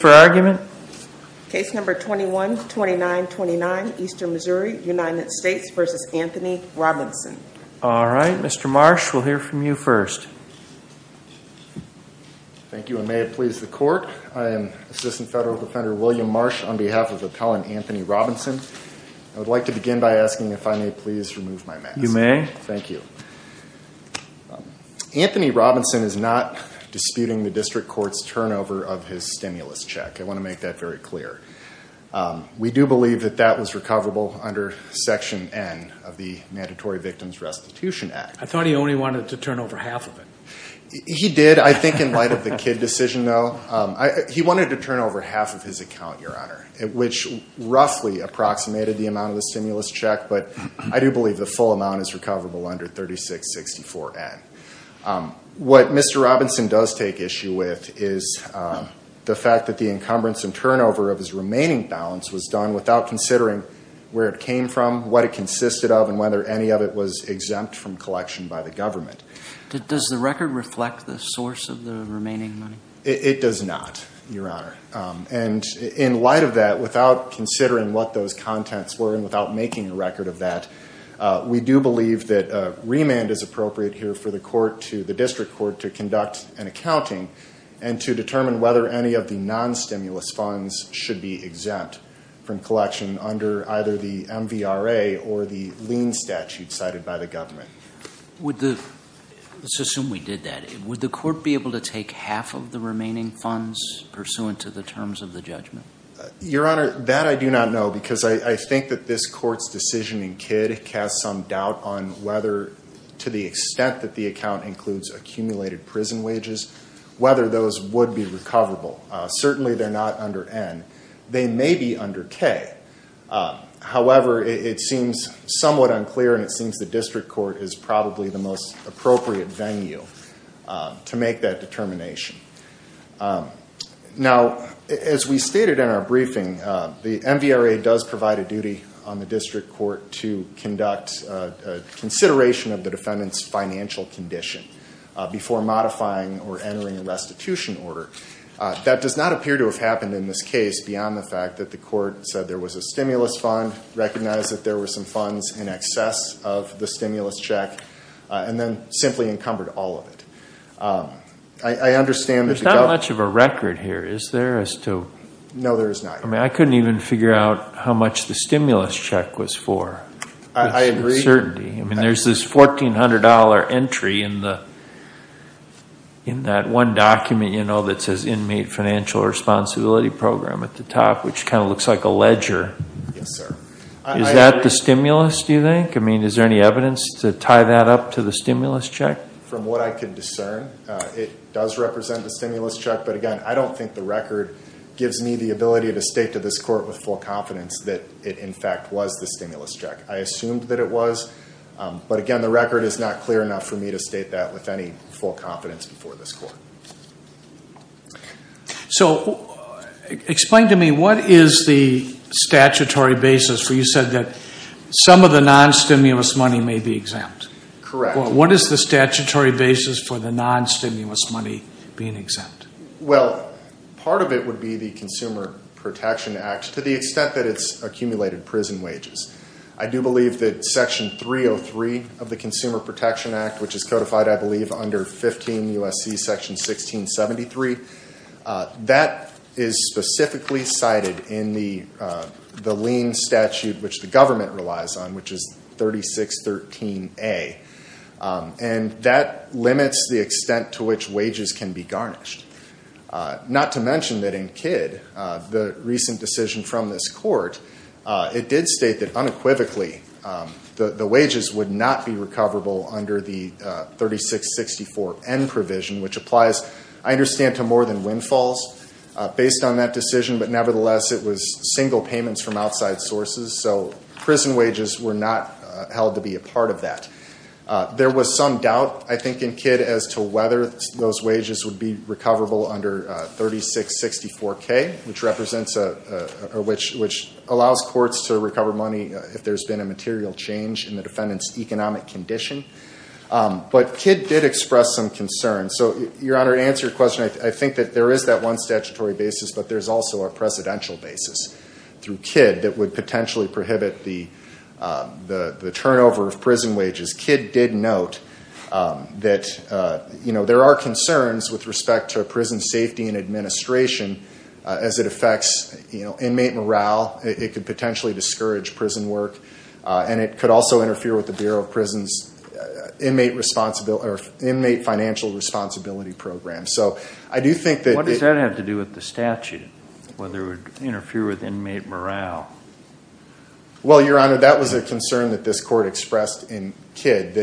Anthony Robinson is not disputing the district court's turnover of his stimulus check. I want to make that very clear. We do believe that that was recoverable under Section N of the Mandatory Victims Restitution Act. I thought he only wanted to turn over half of it. He did, I think, in light of the Kidd decision, though. He wanted to turn over half of his account, Your Honor, which roughly approximated the amount of the stimulus check, but I do believe the full amount is recoverable under 3664N. What Mr. Robinson does take issue with is the fact that the encumbrance and turnover of his remaining balance was done without considering where it came from, what it consisted of, and whether any of it was exempt from collection by the government. Does the record reflect the source of the remaining money? It does not, Your Honor. And in light of that, without considering what those contents were and without making a record of that, we do believe that remand is appropriate here for the district court to conduct an accounting and to determine whether any of the non-stimulus funds should be exempt from collection under either the MVRA or the lien statute cited by the government. Let's assume we did that. Would the court be able to take half of the remaining funds pursuant to the terms of the judgment? Your Honor, that I do not know because I think that this court's decision in Kidd casts some doubt on whether to the extent that the account includes accumulated prison wages, whether those would be recoverable. Certainly they're not under N. They may be under K. However, it seems somewhat unclear and it seems the district court is probably the most appropriate venue to make that determination. Now, as we stated in our briefing, the MVRA does provide a duty on the district court to conduct consideration of the defendant's financial condition before modifying or entering a restitution order. That does not appear to have happened in this case beyond the fact that the court said there was a stimulus fund, recognized that there were some funds in excess of the stimulus check, and then simply encumbered all of it. I understand that the government... There's not much of a record here, is there, as to... No, there is not. I mean, I couldn't even figure out how much the stimulus check was for. I agree. There's this $1,400 entry in that one document, you know, that says Inmate Financial Responsibility Program at the top, which kind of looks like a ledger. Yes, sir. Is that the stimulus, do you think? I mean, is there any evidence to tie that up to the stimulus check? From what I can discern, it does represent the stimulus check, but, again, I don't think the record gives me the ability to state to this court with full confidence that it, in fact, was the stimulus check. I assumed that it was, but, again, the record is not clear enough for me to state that with any full confidence before this court. So explain to me, what is the statutory basis where you said that some of the non-stimulus money may be exempt? Correct. What is the statutory basis for the non-stimulus money being exempt? Well, part of it would be the Consumer Protection Act, to the extent that it's accumulated prison wages. I do believe that Section 303 of the Consumer Protection Act, which is codified, I believe, under 15 U.S.C. Section 1673, that is specifically cited in the lien statute which the government relies on, which is 3613A, and that limits the extent to which wages can be garnished. Not to mention that in Kidd, the recent decision from this court, it did state that unequivocally the wages would not be recoverable under the 3664N provision, which applies, I understand, to more than windfalls. Based on that decision, but nevertheless, it was single payments from outside sources, so prison wages were not held to be a part of that. There was some doubt, I think, in Kidd as to whether those wages would be recoverable under 3664K, which allows courts to recover money if there's been a material change in the defendant's economic condition. But Kidd did express some concern. So, Your Honor, to answer your question, I think that there is that one statutory basis, but there's also a presidential basis through Kidd that would potentially prohibit the turnover of prison wages. Kidd did note that there are concerns with respect to prison safety and administration as it affects inmate morale. It could potentially discourage prison work, and it could also interfere with the Bureau of Prisons' inmate financial responsibility program. So, I do think that... What does that have to do with the statute, whether it would interfere with inmate morale? Well, Your Honor, that was a concern that this court expressed in Kidd.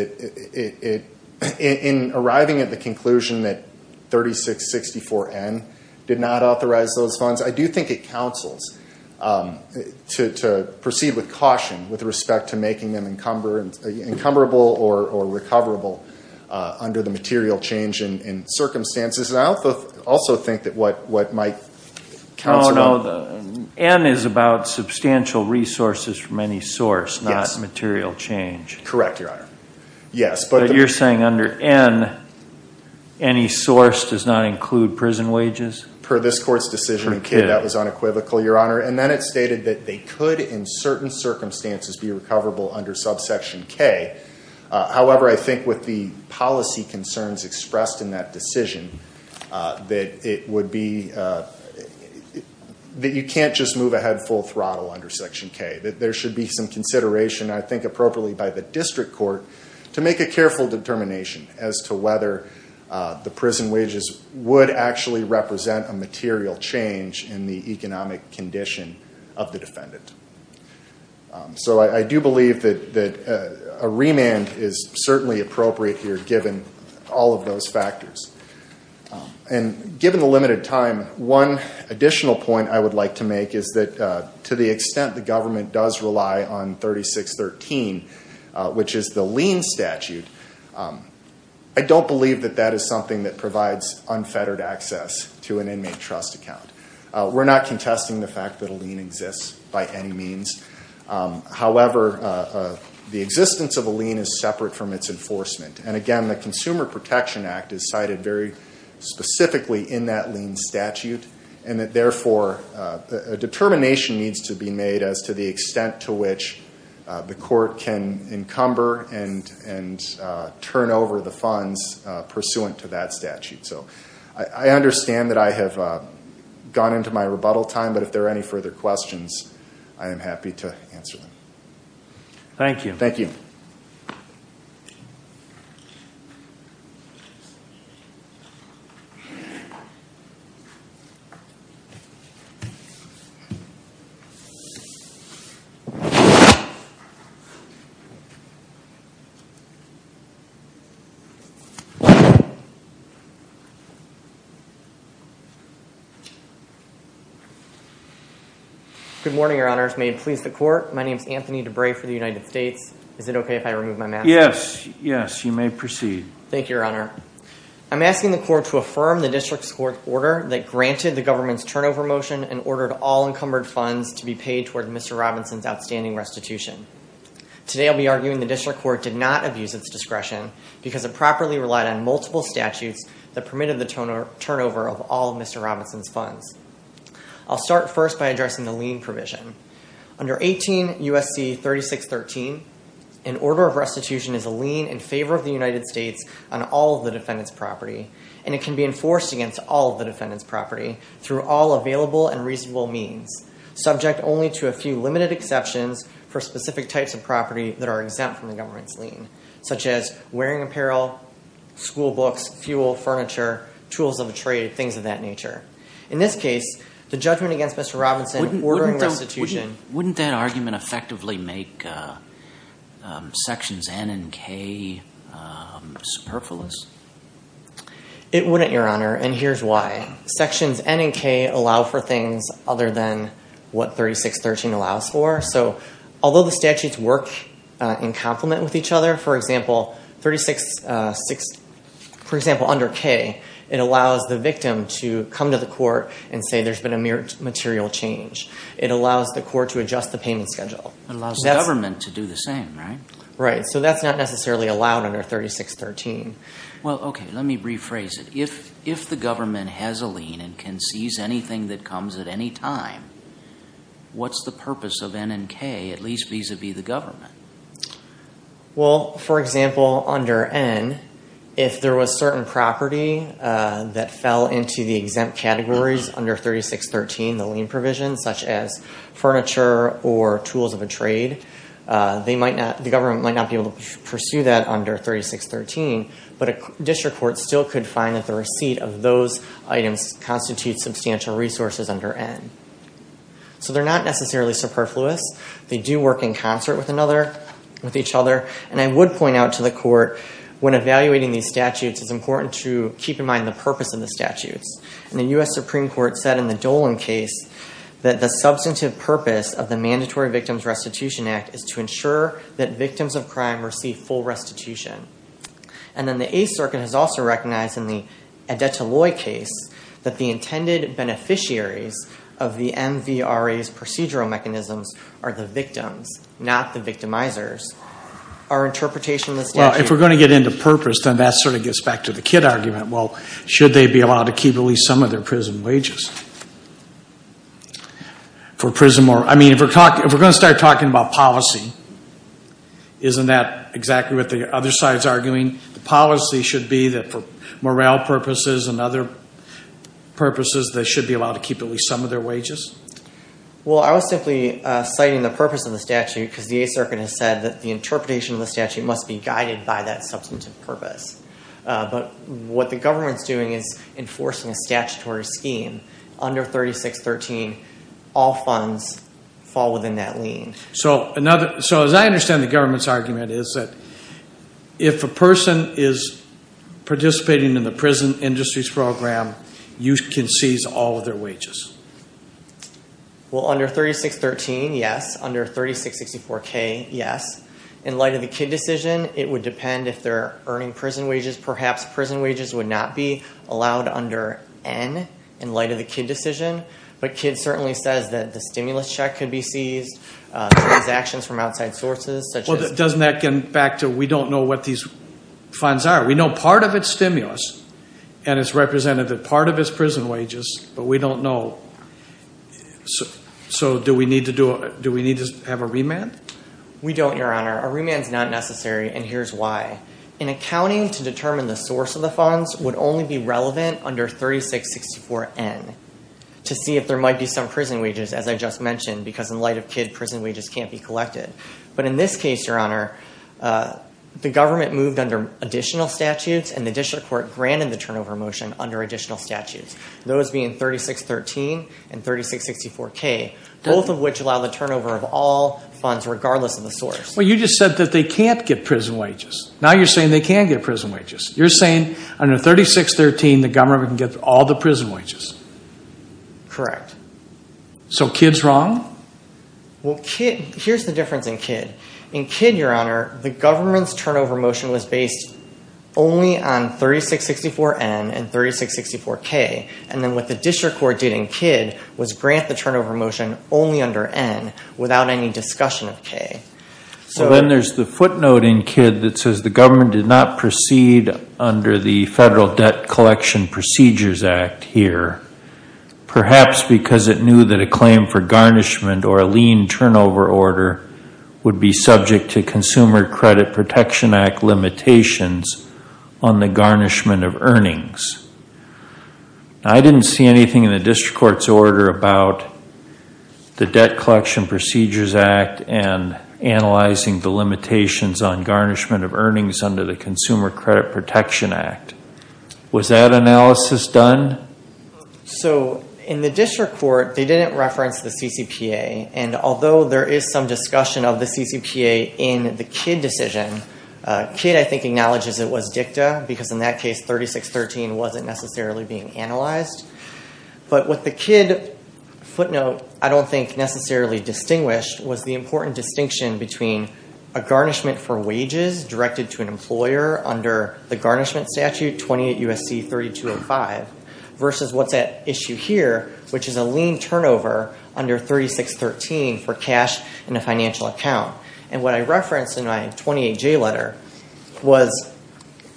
In arriving at the conclusion that 3664N did not authorize those funds, I do think it counsels to proceed with caution with respect to making them encumberable or recoverable under the material change in circumstances. And I also think that what might counsel... No, no, N is about substantial resources from any source, not material change. Correct, Your Honor. Yes, but... But you're saying under N, any source does not include prison wages? Per this court's decision in Kidd, that was unequivocal, Your Honor. And then it stated that they could, in certain circumstances, be recoverable under subsection K. However, I think with the policy concerns expressed in that decision, that it would be... that you can't just move ahead full throttle under section K. There should be some consideration, I think appropriately by the district court, to make a careful determination as to whether the prison wages would actually represent a material change in the economic condition of the defendant. So I do believe that a remand is certainly appropriate here, given all of those factors. And given the limited time, one additional point I would like to make is that, to the extent the government does rely on 3613, which is the lien statute, I don't believe that that is something that provides unfettered access to an inmate trust account. We're not contesting the fact that a lien exists by any means. However, the existence of a lien is separate from its enforcement. And again, the Consumer Protection Act is cited very specifically in that lien statute, and that therefore a determination needs to be made as to the extent to which the court can encumber and turn over the funds pursuant to that statute. So I understand that I have gone into my rebuttal time, but if there are any further questions, I am happy to answer them. Thank you. Thank you. My name is Anthony DeBray for the United States. Is it okay if I remove my mask? Yes. Yes, you may proceed. Thank you, Your Honor. I'm asking the court to affirm the district's court order that granted the government's turnover motion and ordered all encumbered funds to be paid toward Mr. Robinson's outstanding restitution. Today I'll be arguing the district court did not abuse its discretion because it properly relied on multiple statutes that permitted the turnover of all of Mr. Robinson's funds. I'll start first by addressing the lien provision. Under 18 U.S.C. 3613, an order of restitution is a lien in favor of the United States on all of the defendant's property, and it can be enforced against all of the defendant's property through all available and reasonable means, subject only to a few limited exceptions for specific types of property that are exempt from the government's lien, such as wearing apparel, school books, fuel, furniture, tools of the trade, things of that nature. In this case, the judgment against Mr. Robinson ordering restitution… Wouldn't that argument effectively make Sections N and K superfluous? It wouldn't, Your Honor, and here's why. Sections N and K allow for things other than what 3613 allows for. So although the statutes work in complement with each other, for example, under K, it allows the victim to come to the court and say there's been a mere material change. It allows the court to adjust the payment schedule. It allows the government to do the same, right? Right, so that's not necessarily allowed under 3613. Well, okay, let me rephrase it. If the government has a lien and can seize anything that comes at any time, what's the purpose of N and K, at least vis-à-vis the government? Well, for example, under N, if there was certain property that fell into the exempt categories under 3613, the lien provision, such as furniture or tools of a trade, the government might not be able to pursue that under 3613, but a district court still could find that the receipt of those items constitutes substantial resources under N. So they're not necessarily superfluous. They do work in concert with each other, and I would point out to the court when evaluating these statutes, it's important to keep in mind the purpose of the statutes. And the U.S. Supreme Court said in the Dolan case that the substantive purpose of the Mandatory Victims Restitution Act is to ensure that victims of crime receive full restitution. And then the Eighth Circuit has also recognized in the Adetoloi case that the intended beneficiaries of the MVRA's procedural mechanisms are the victims, not the victimizers. Our interpretation of the statute... Well, if we're going to get into purpose, then that sort of gets back to the Kidd argument. Well, should they be allowed to keep at least some of their prison wages? I mean, if we're going to start talking about policy, isn't that exactly what the other side's arguing? The policy should be that for morale purposes and other purposes, they should be allowed to keep at least some of their wages? Well, I was simply citing the purpose of the statute because the Eighth Circuit has said that the interpretation of the statute must be guided by that substantive purpose. But what the government's doing is enforcing a statutory scheme. Under 3613, all funds fall within that lien. So as I understand the government's argument, is that if a person is participating in the prison industries program, you can seize all of their wages? Well, under 3613, yes. Under 3664K, yes. In light of the Kidd decision, it would depend if they're earning prison wages. Perhaps prison wages would not be allowed under N in light of the Kidd decision. But Kidd certainly says that the stimulus check could be seized, transactions from outside sources. Well, doesn't that get back to we don't know what these funds are? We know part of it's stimulus, and it's represented that part of it's prison wages, but we don't know. So do we need to have a remand? We don't, Your Honor. A remand's not necessary, and here's why. An accounting to determine the source of the funds would only be relevant under 3664N. To see if there might be some prison wages, as I just mentioned, because in light of Kidd, prison wages can't be collected. But in this case, Your Honor, the government moved under additional statutes, and the district court granted the turnover motion under additional statutes, those being 3613 and 3664K, both of which allow the turnover of all funds regardless of the source. Well, you just said that they can't get prison wages. Now you're saying they can get prison wages. You're saying under 3613 the government can get all the prison wages. Correct. So Kidd's wrong? Well, here's the difference in Kidd. In Kidd, Your Honor, the government's turnover motion was based only on 3664N and 3664K, and then what the district court did in Kidd was grant the turnover motion only under N without any discussion of K. So then there's the footnote in Kidd that says the government did not proceed under the Federal Debt Collection Procedures Act here, perhaps because it knew that a claim for garnishment or a lien turnover order would be subject to Consumer Credit Protection Act limitations on the garnishment of earnings. I didn't see anything in the district court's order about the Debt Collection Procedures Act and analyzing the limitations on garnishment of earnings under the Consumer Credit Protection Act. Was that analysis done? So in the district court, they didn't reference the CCPA, and although there is some discussion of the CCPA in the Kidd decision, Kidd, I think, acknowledges it was dicta because in that case 3613 wasn't necessarily being analyzed. But what the Kidd footnote I don't think necessarily distinguished was the important distinction between a garnishment for wages directed to an employer under the garnishment statute, 28 U.S.C. 3205, versus what's at issue here, which is a lien turnover under 3613 for cash in a financial account. And what I referenced in my 28J letter was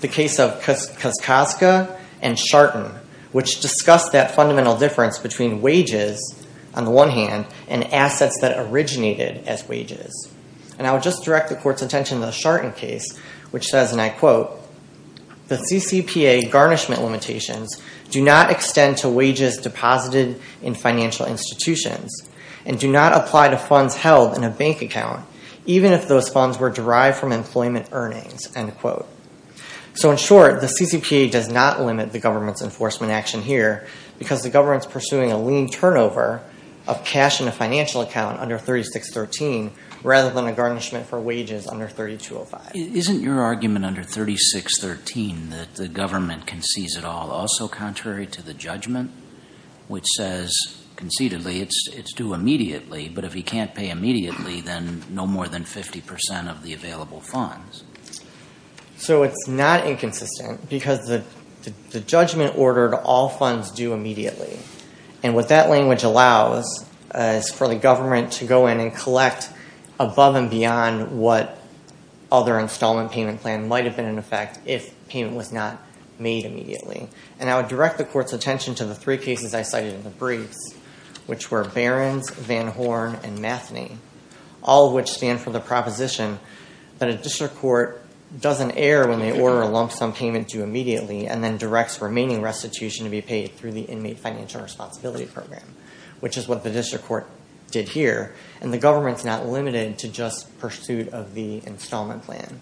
the case of Koskoska and Sharton, which discussed that fundamental difference between wages, on the one hand, and assets that originated as wages. And I would just direct the court's attention to the Sharton case, which says, and I quote, the CCPA garnishment limitations do not extend to wages deposited in financial institutions and do not apply to funds held in a bank account, even if those funds were derived from employment earnings, end quote. So in short, the CCPA does not limit the government's enforcement action here because the government's pursuing a lien turnover of cash in a financial account under 3613, rather than a garnishment for wages under 3205. Isn't your argument under 3613 that the government concedes it all also contrary to the judgment, which says concededly it's due immediately, but if he can't pay immediately, then no more than 50% of the available funds? So it's not inconsistent because the judgment ordered all funds due immediately. And what that language allows is for the government to go in and collect above and beyond what other installment payment plan might have been in effect if payment was not made immediately. And I would direct the court's attention to the three cases I cited in the briefs, which were Barron's, Van Horn, and Matheny, all of which stand for the proposition that a district court doesn't err when they order a lump sum payment due immediately and then directs remaining restitution to be paid through the inmate financial responsibility program, which is what the district court did here, and the government's not limited to just pursuit of the installment plan.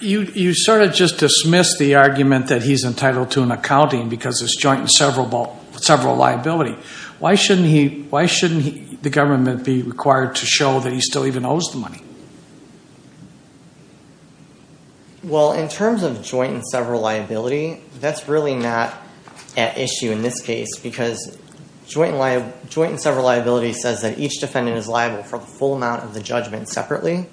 You sort of just dismissed the argument that he's entitled to an accounting because it's joint and several liability. Why shouldn't the government be required to show that he still even owes the money? Well, in terms of joint and several liability, that's really not at issue in this case because joint and several liability says that each defendant is liable for the full amount of the judgment separately,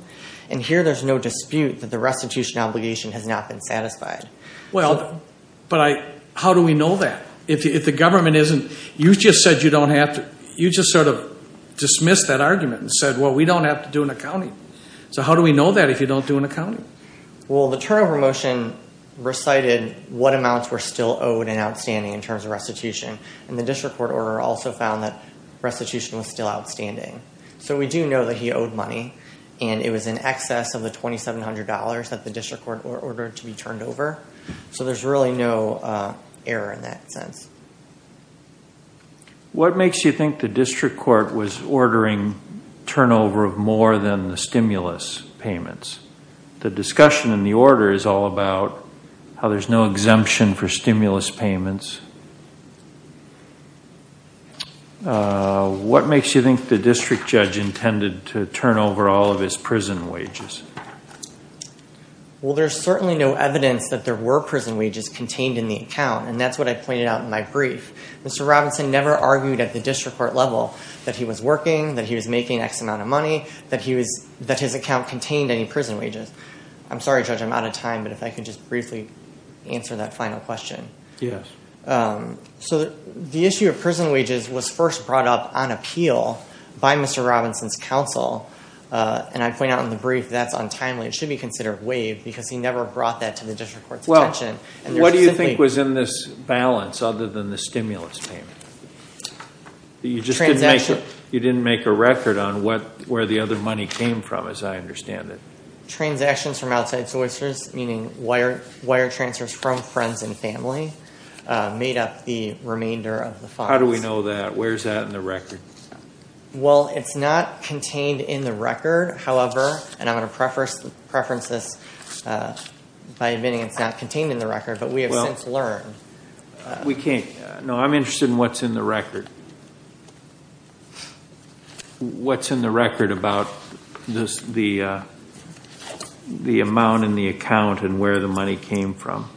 and here there's no dispute that the restitution obligation has not been satisfied. Well, but how do we know that if the government isn't? You just said you don't have to. You just sort of dismissed that argument and said, well, we don't have to do an accounting. So how do we know that if you don't do an accounting? Well, the turnover motion recited what amounts were still owed and outstanding in terms of restitution, and the district court order also found that restitution was still outstanding. So we do know that he owed money, and it was in excess of the $2,700 that the district court ordered to be turned over. So there's really no error in that sense. What makes you think the district court was ordering turnover of more than the stimulus payments? The discussion in the order is all about how there's no exemption for stimulus payments. What makes you think the district judge intended to turn over all of his prison wages? Well, there's certainly no evidence that there were prison wages contained in the account, and that's what I pointed out in my brief. Mr. Robinson never argued at the district court level that he was working, that he was making X amount of money, that his account contained any prison wages. I'm sorry, Judge, I'm out of time, but if I could just briefly answer that final question. Yes. So the issue of prison wages was first brought up on appeal by Mr. Robinson's counsel, and I point out in the brief that's untimely. It should be considered waived because he never brought that to the district court's attention. What do you think was in this balance other than the stimulus payment? You just didn't make a record on where the other money came from, as I understand it. Transactions from outside sources, meaning wire transfers from friends and family, made up the remainder of the funds. How do we know that? Where's that in the record? Well, it's not contained in the record, however, and I'm going to preference this by admitting it's not contained in the record, but we have since learned. We can't. No, I'm interested in what's in the record. What's in the record about the amount in the account and where the money came from?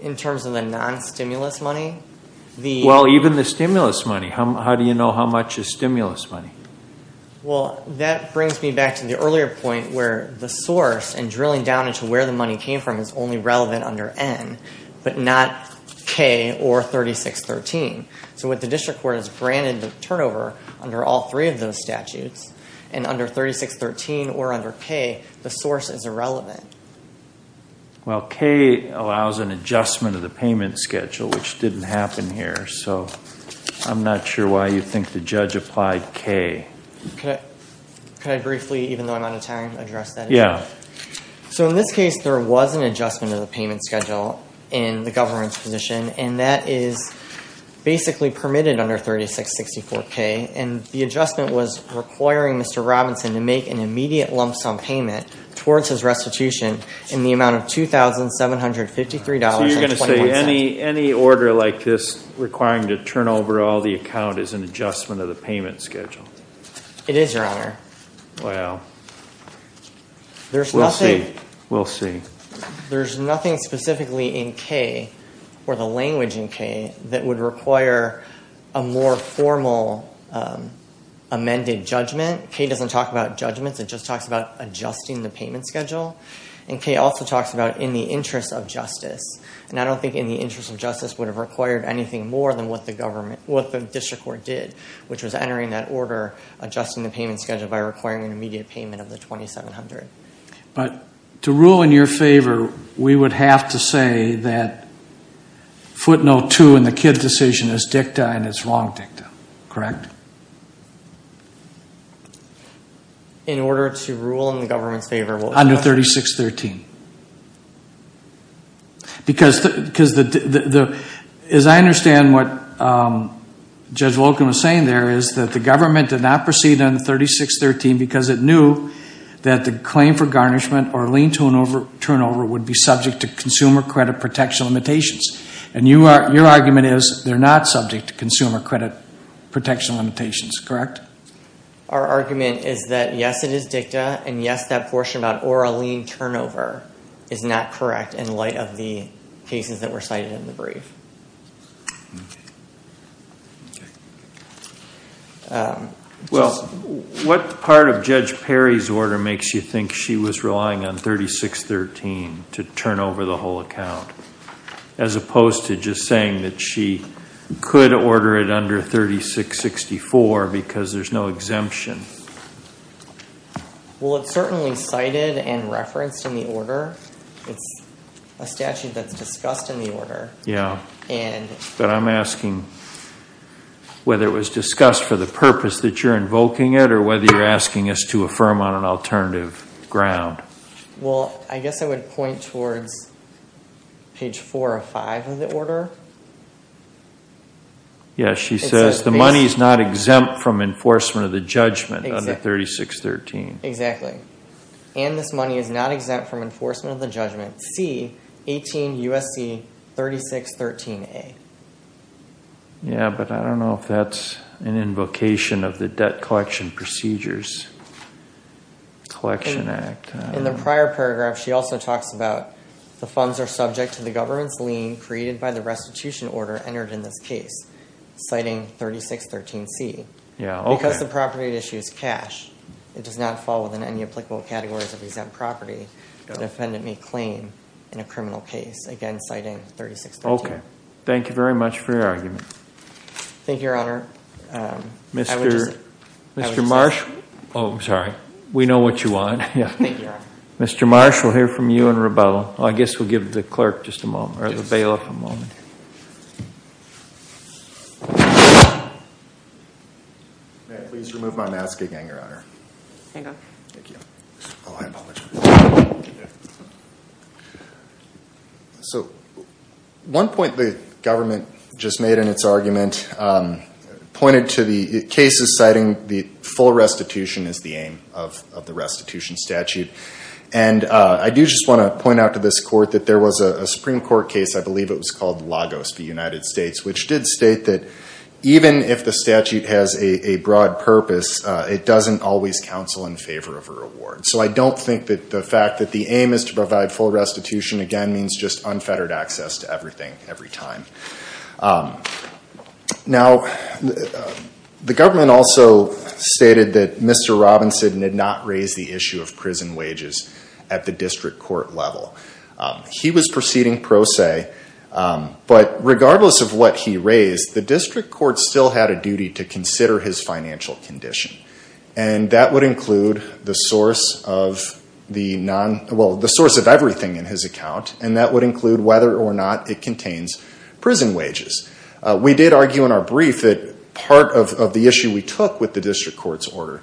In terms of the non-stimulus money? Well, even the stimulus money. How do you know how much is stimulus money? Well, that brings me back to the earlier point where the source and drilling down into where the money came from is only relevant under N, but not K or 3613. So what the district court has granted the turnover under all three of those statutes, and under 3613 or under K, the source is irrelevant. Well, K allows an adjustment of the payment schedule, which didn't happen here, so I'm not sure why you think the judge applied K. Can I briefly, even though I'm on a time, address that? Yeah. So in this case, there was an adjustment of the payment schedule in the government's position, and that is basically permitted under 3664K, and the adjustment was requiring Mr. Robinson to make an immediate lump sum payment towards his restitution in the amount of $2,753.21. So you're going to say any order like this requiring to turn over all the account is an adjustment of the payment schedule? It is, Your Honor. Wow. We'll see. We'll see. There's nothing specifically in K or the language in K that would require a more formal amended judgment. K doesn't talk about judgments. It just talks about adjusting the payment schedule. And K also talks about in the interest of justice, and I don't think in the interest of justice would have required anything more than what the government, what the district court did, which was entering that order, adjusting the payment schedule by requiring an immediate payment of the $2,700. But to rule in your favor, we would have to say that footnote two in the Kidd decision is dicta and it's wrong dicta, correct? In order to rule in the government's favor, we'll adjust it. Under 3613. Because as I understand what Judge Wolkin was saying there is that the government did not proceed under 3613 because it knew that the claim for garnishment or lien turnover would be subject to consumer credit protection limitations. And your argument is they're not subject to consumer credit protection limitations, correct? Our argument is that yes, it is dicta. And yes, that portion about or a lien turnover is not correct in light of the cases that were cited in the brief. Well, what part of Judge Perry's order makes you think she was relying on 3613 to turn over the whole account? As opposed to just saying that she could order it under 3664 because there's no exemption. Well, it's certainly cited and referenced in the order. It's a statute that's discussed in the order. Yeah, but I'm asking whether it was discussed for the purpose that you're invoking it or whether you're asking us to affirm on an alternative ground. Well, I guess I would point towards page 4 or 5 of the order. Yeah, she says the money is not exempt from enforcement of the judgment under 3613. Exactly. And this money is not exempt from enforcement of the judgment. C, 18 U.S.C. 3613A. Yeah, but I don't know if that's an invocation of the Debt Collection Procedures. Debt Collection Act. In the prior paragraph, she also talks about the funds are subject to the government's lien created by the restitution order entered in this case, citing 3613C. Yeah, okay. Because the property issues cash, it does not fall within any applicable categories of exempt property the defendant may claim in a criminal case, again citing 3613. Thank you, Your Honor. Mr. Marshall. Oh, I'm sorry. We know what you want. Thank you, Your Honor. Mr. Marshall, we'll hear from you in rebuttal. I guess we'll give the clerk just a moment or the bailiff a moment. May I please remove my mask again, Your Honor? Hang on. Thank you. Oh, I apologize. So one point the government just made in its argument pointed to the cases citing the full restitution as the aim of the restitution statute. And I do just want to point out to this Court that there was a Supreme Court case, I believe it was called Lagos v. United States, which did state that even if the statute has a broad purpose, it doesn't always counsel in favor of a reward. So I don't think that the fact that the aim is to provide full restitution, again, means just unfettered access to everything, every time. Now, the government also stated that Mr. Robinson did not raise the issue of prison wages at the district court level. He was proceeding pro se, but regardless of what he raised, the district court still had a duty to consider his financial condition. And that would include the source of everything in his account, and that would include whether or not it contains prison wages. We did argue in our brief that part of the issue we took with the district court's order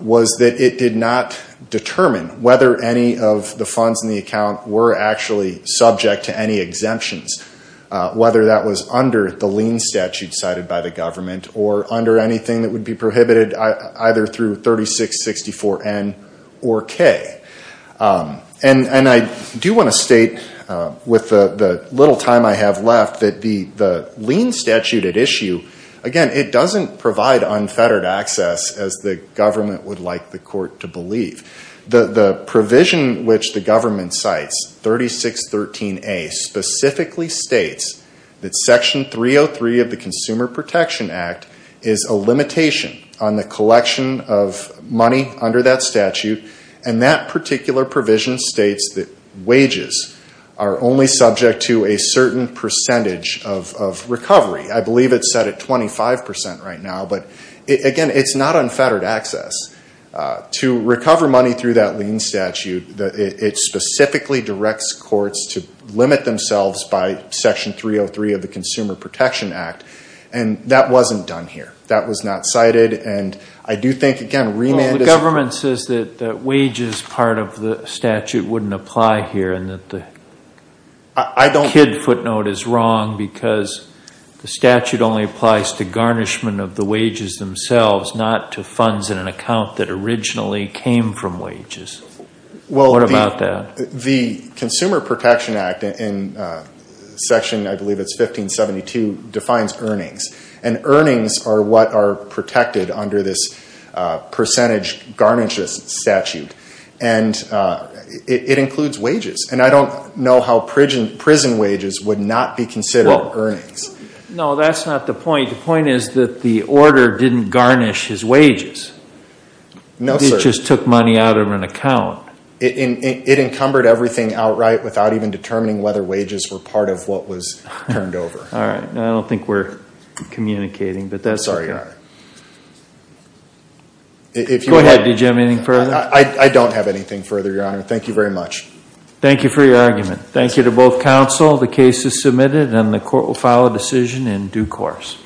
was that it did not determine whether any of the funds in the account were actually subject to any exemptions, whether that was under the lien statute cited by the government or under anything that would be prohibited either through 3664N or K. And I do want to state, with the little time I have left, that the lien statute at issue, again, it doesn't provide unfettered access, as the government would like the court to believe. The provision which the government cites, 3613A, specifically states that Section 303 of the Consumer Protection Act is a limitation on the collection of money under that statute, and that particular provision states that wages are only subject to a certain percentage of recovery. I believe it's set at 25% right now, but again, it's not unfettered access. To recover money through that lien statute, it specifically directs courts to limit themselves by Section 303 of the Consumer Protection Act, and that wasn't done here. That was not cited, and I do think, again, remand is... Well, the government says that wages part of the statute wouldn't apply here and that the kid footnote is wrong because the statute only applies to garnishment of the wages themselves, not to funds in an account that originally came from wages. What about that? Well, the Consumer Protection Act in Section, I believe it's 1572, defines earnings, and earnings are what are protected under this percentage garnishes statute, and it includes wages, and I don't know how prison wages would not be considered earnings. No, that's not the point. The point is that the order didn't garnish his wages. No, sir. It just took money out of an account. It encumbered everything outright without even determining whether wages were part of what was turned over. All right. I don't think we're communicating, but that's okay. Sorry, Your Honor. Go ahead. Did you have anything further? I don't have anything further, Your Honor. Thank you very much. Thank you for your argument. Thank you to both counsel. The case is submitted, and the court will file a decision in due course.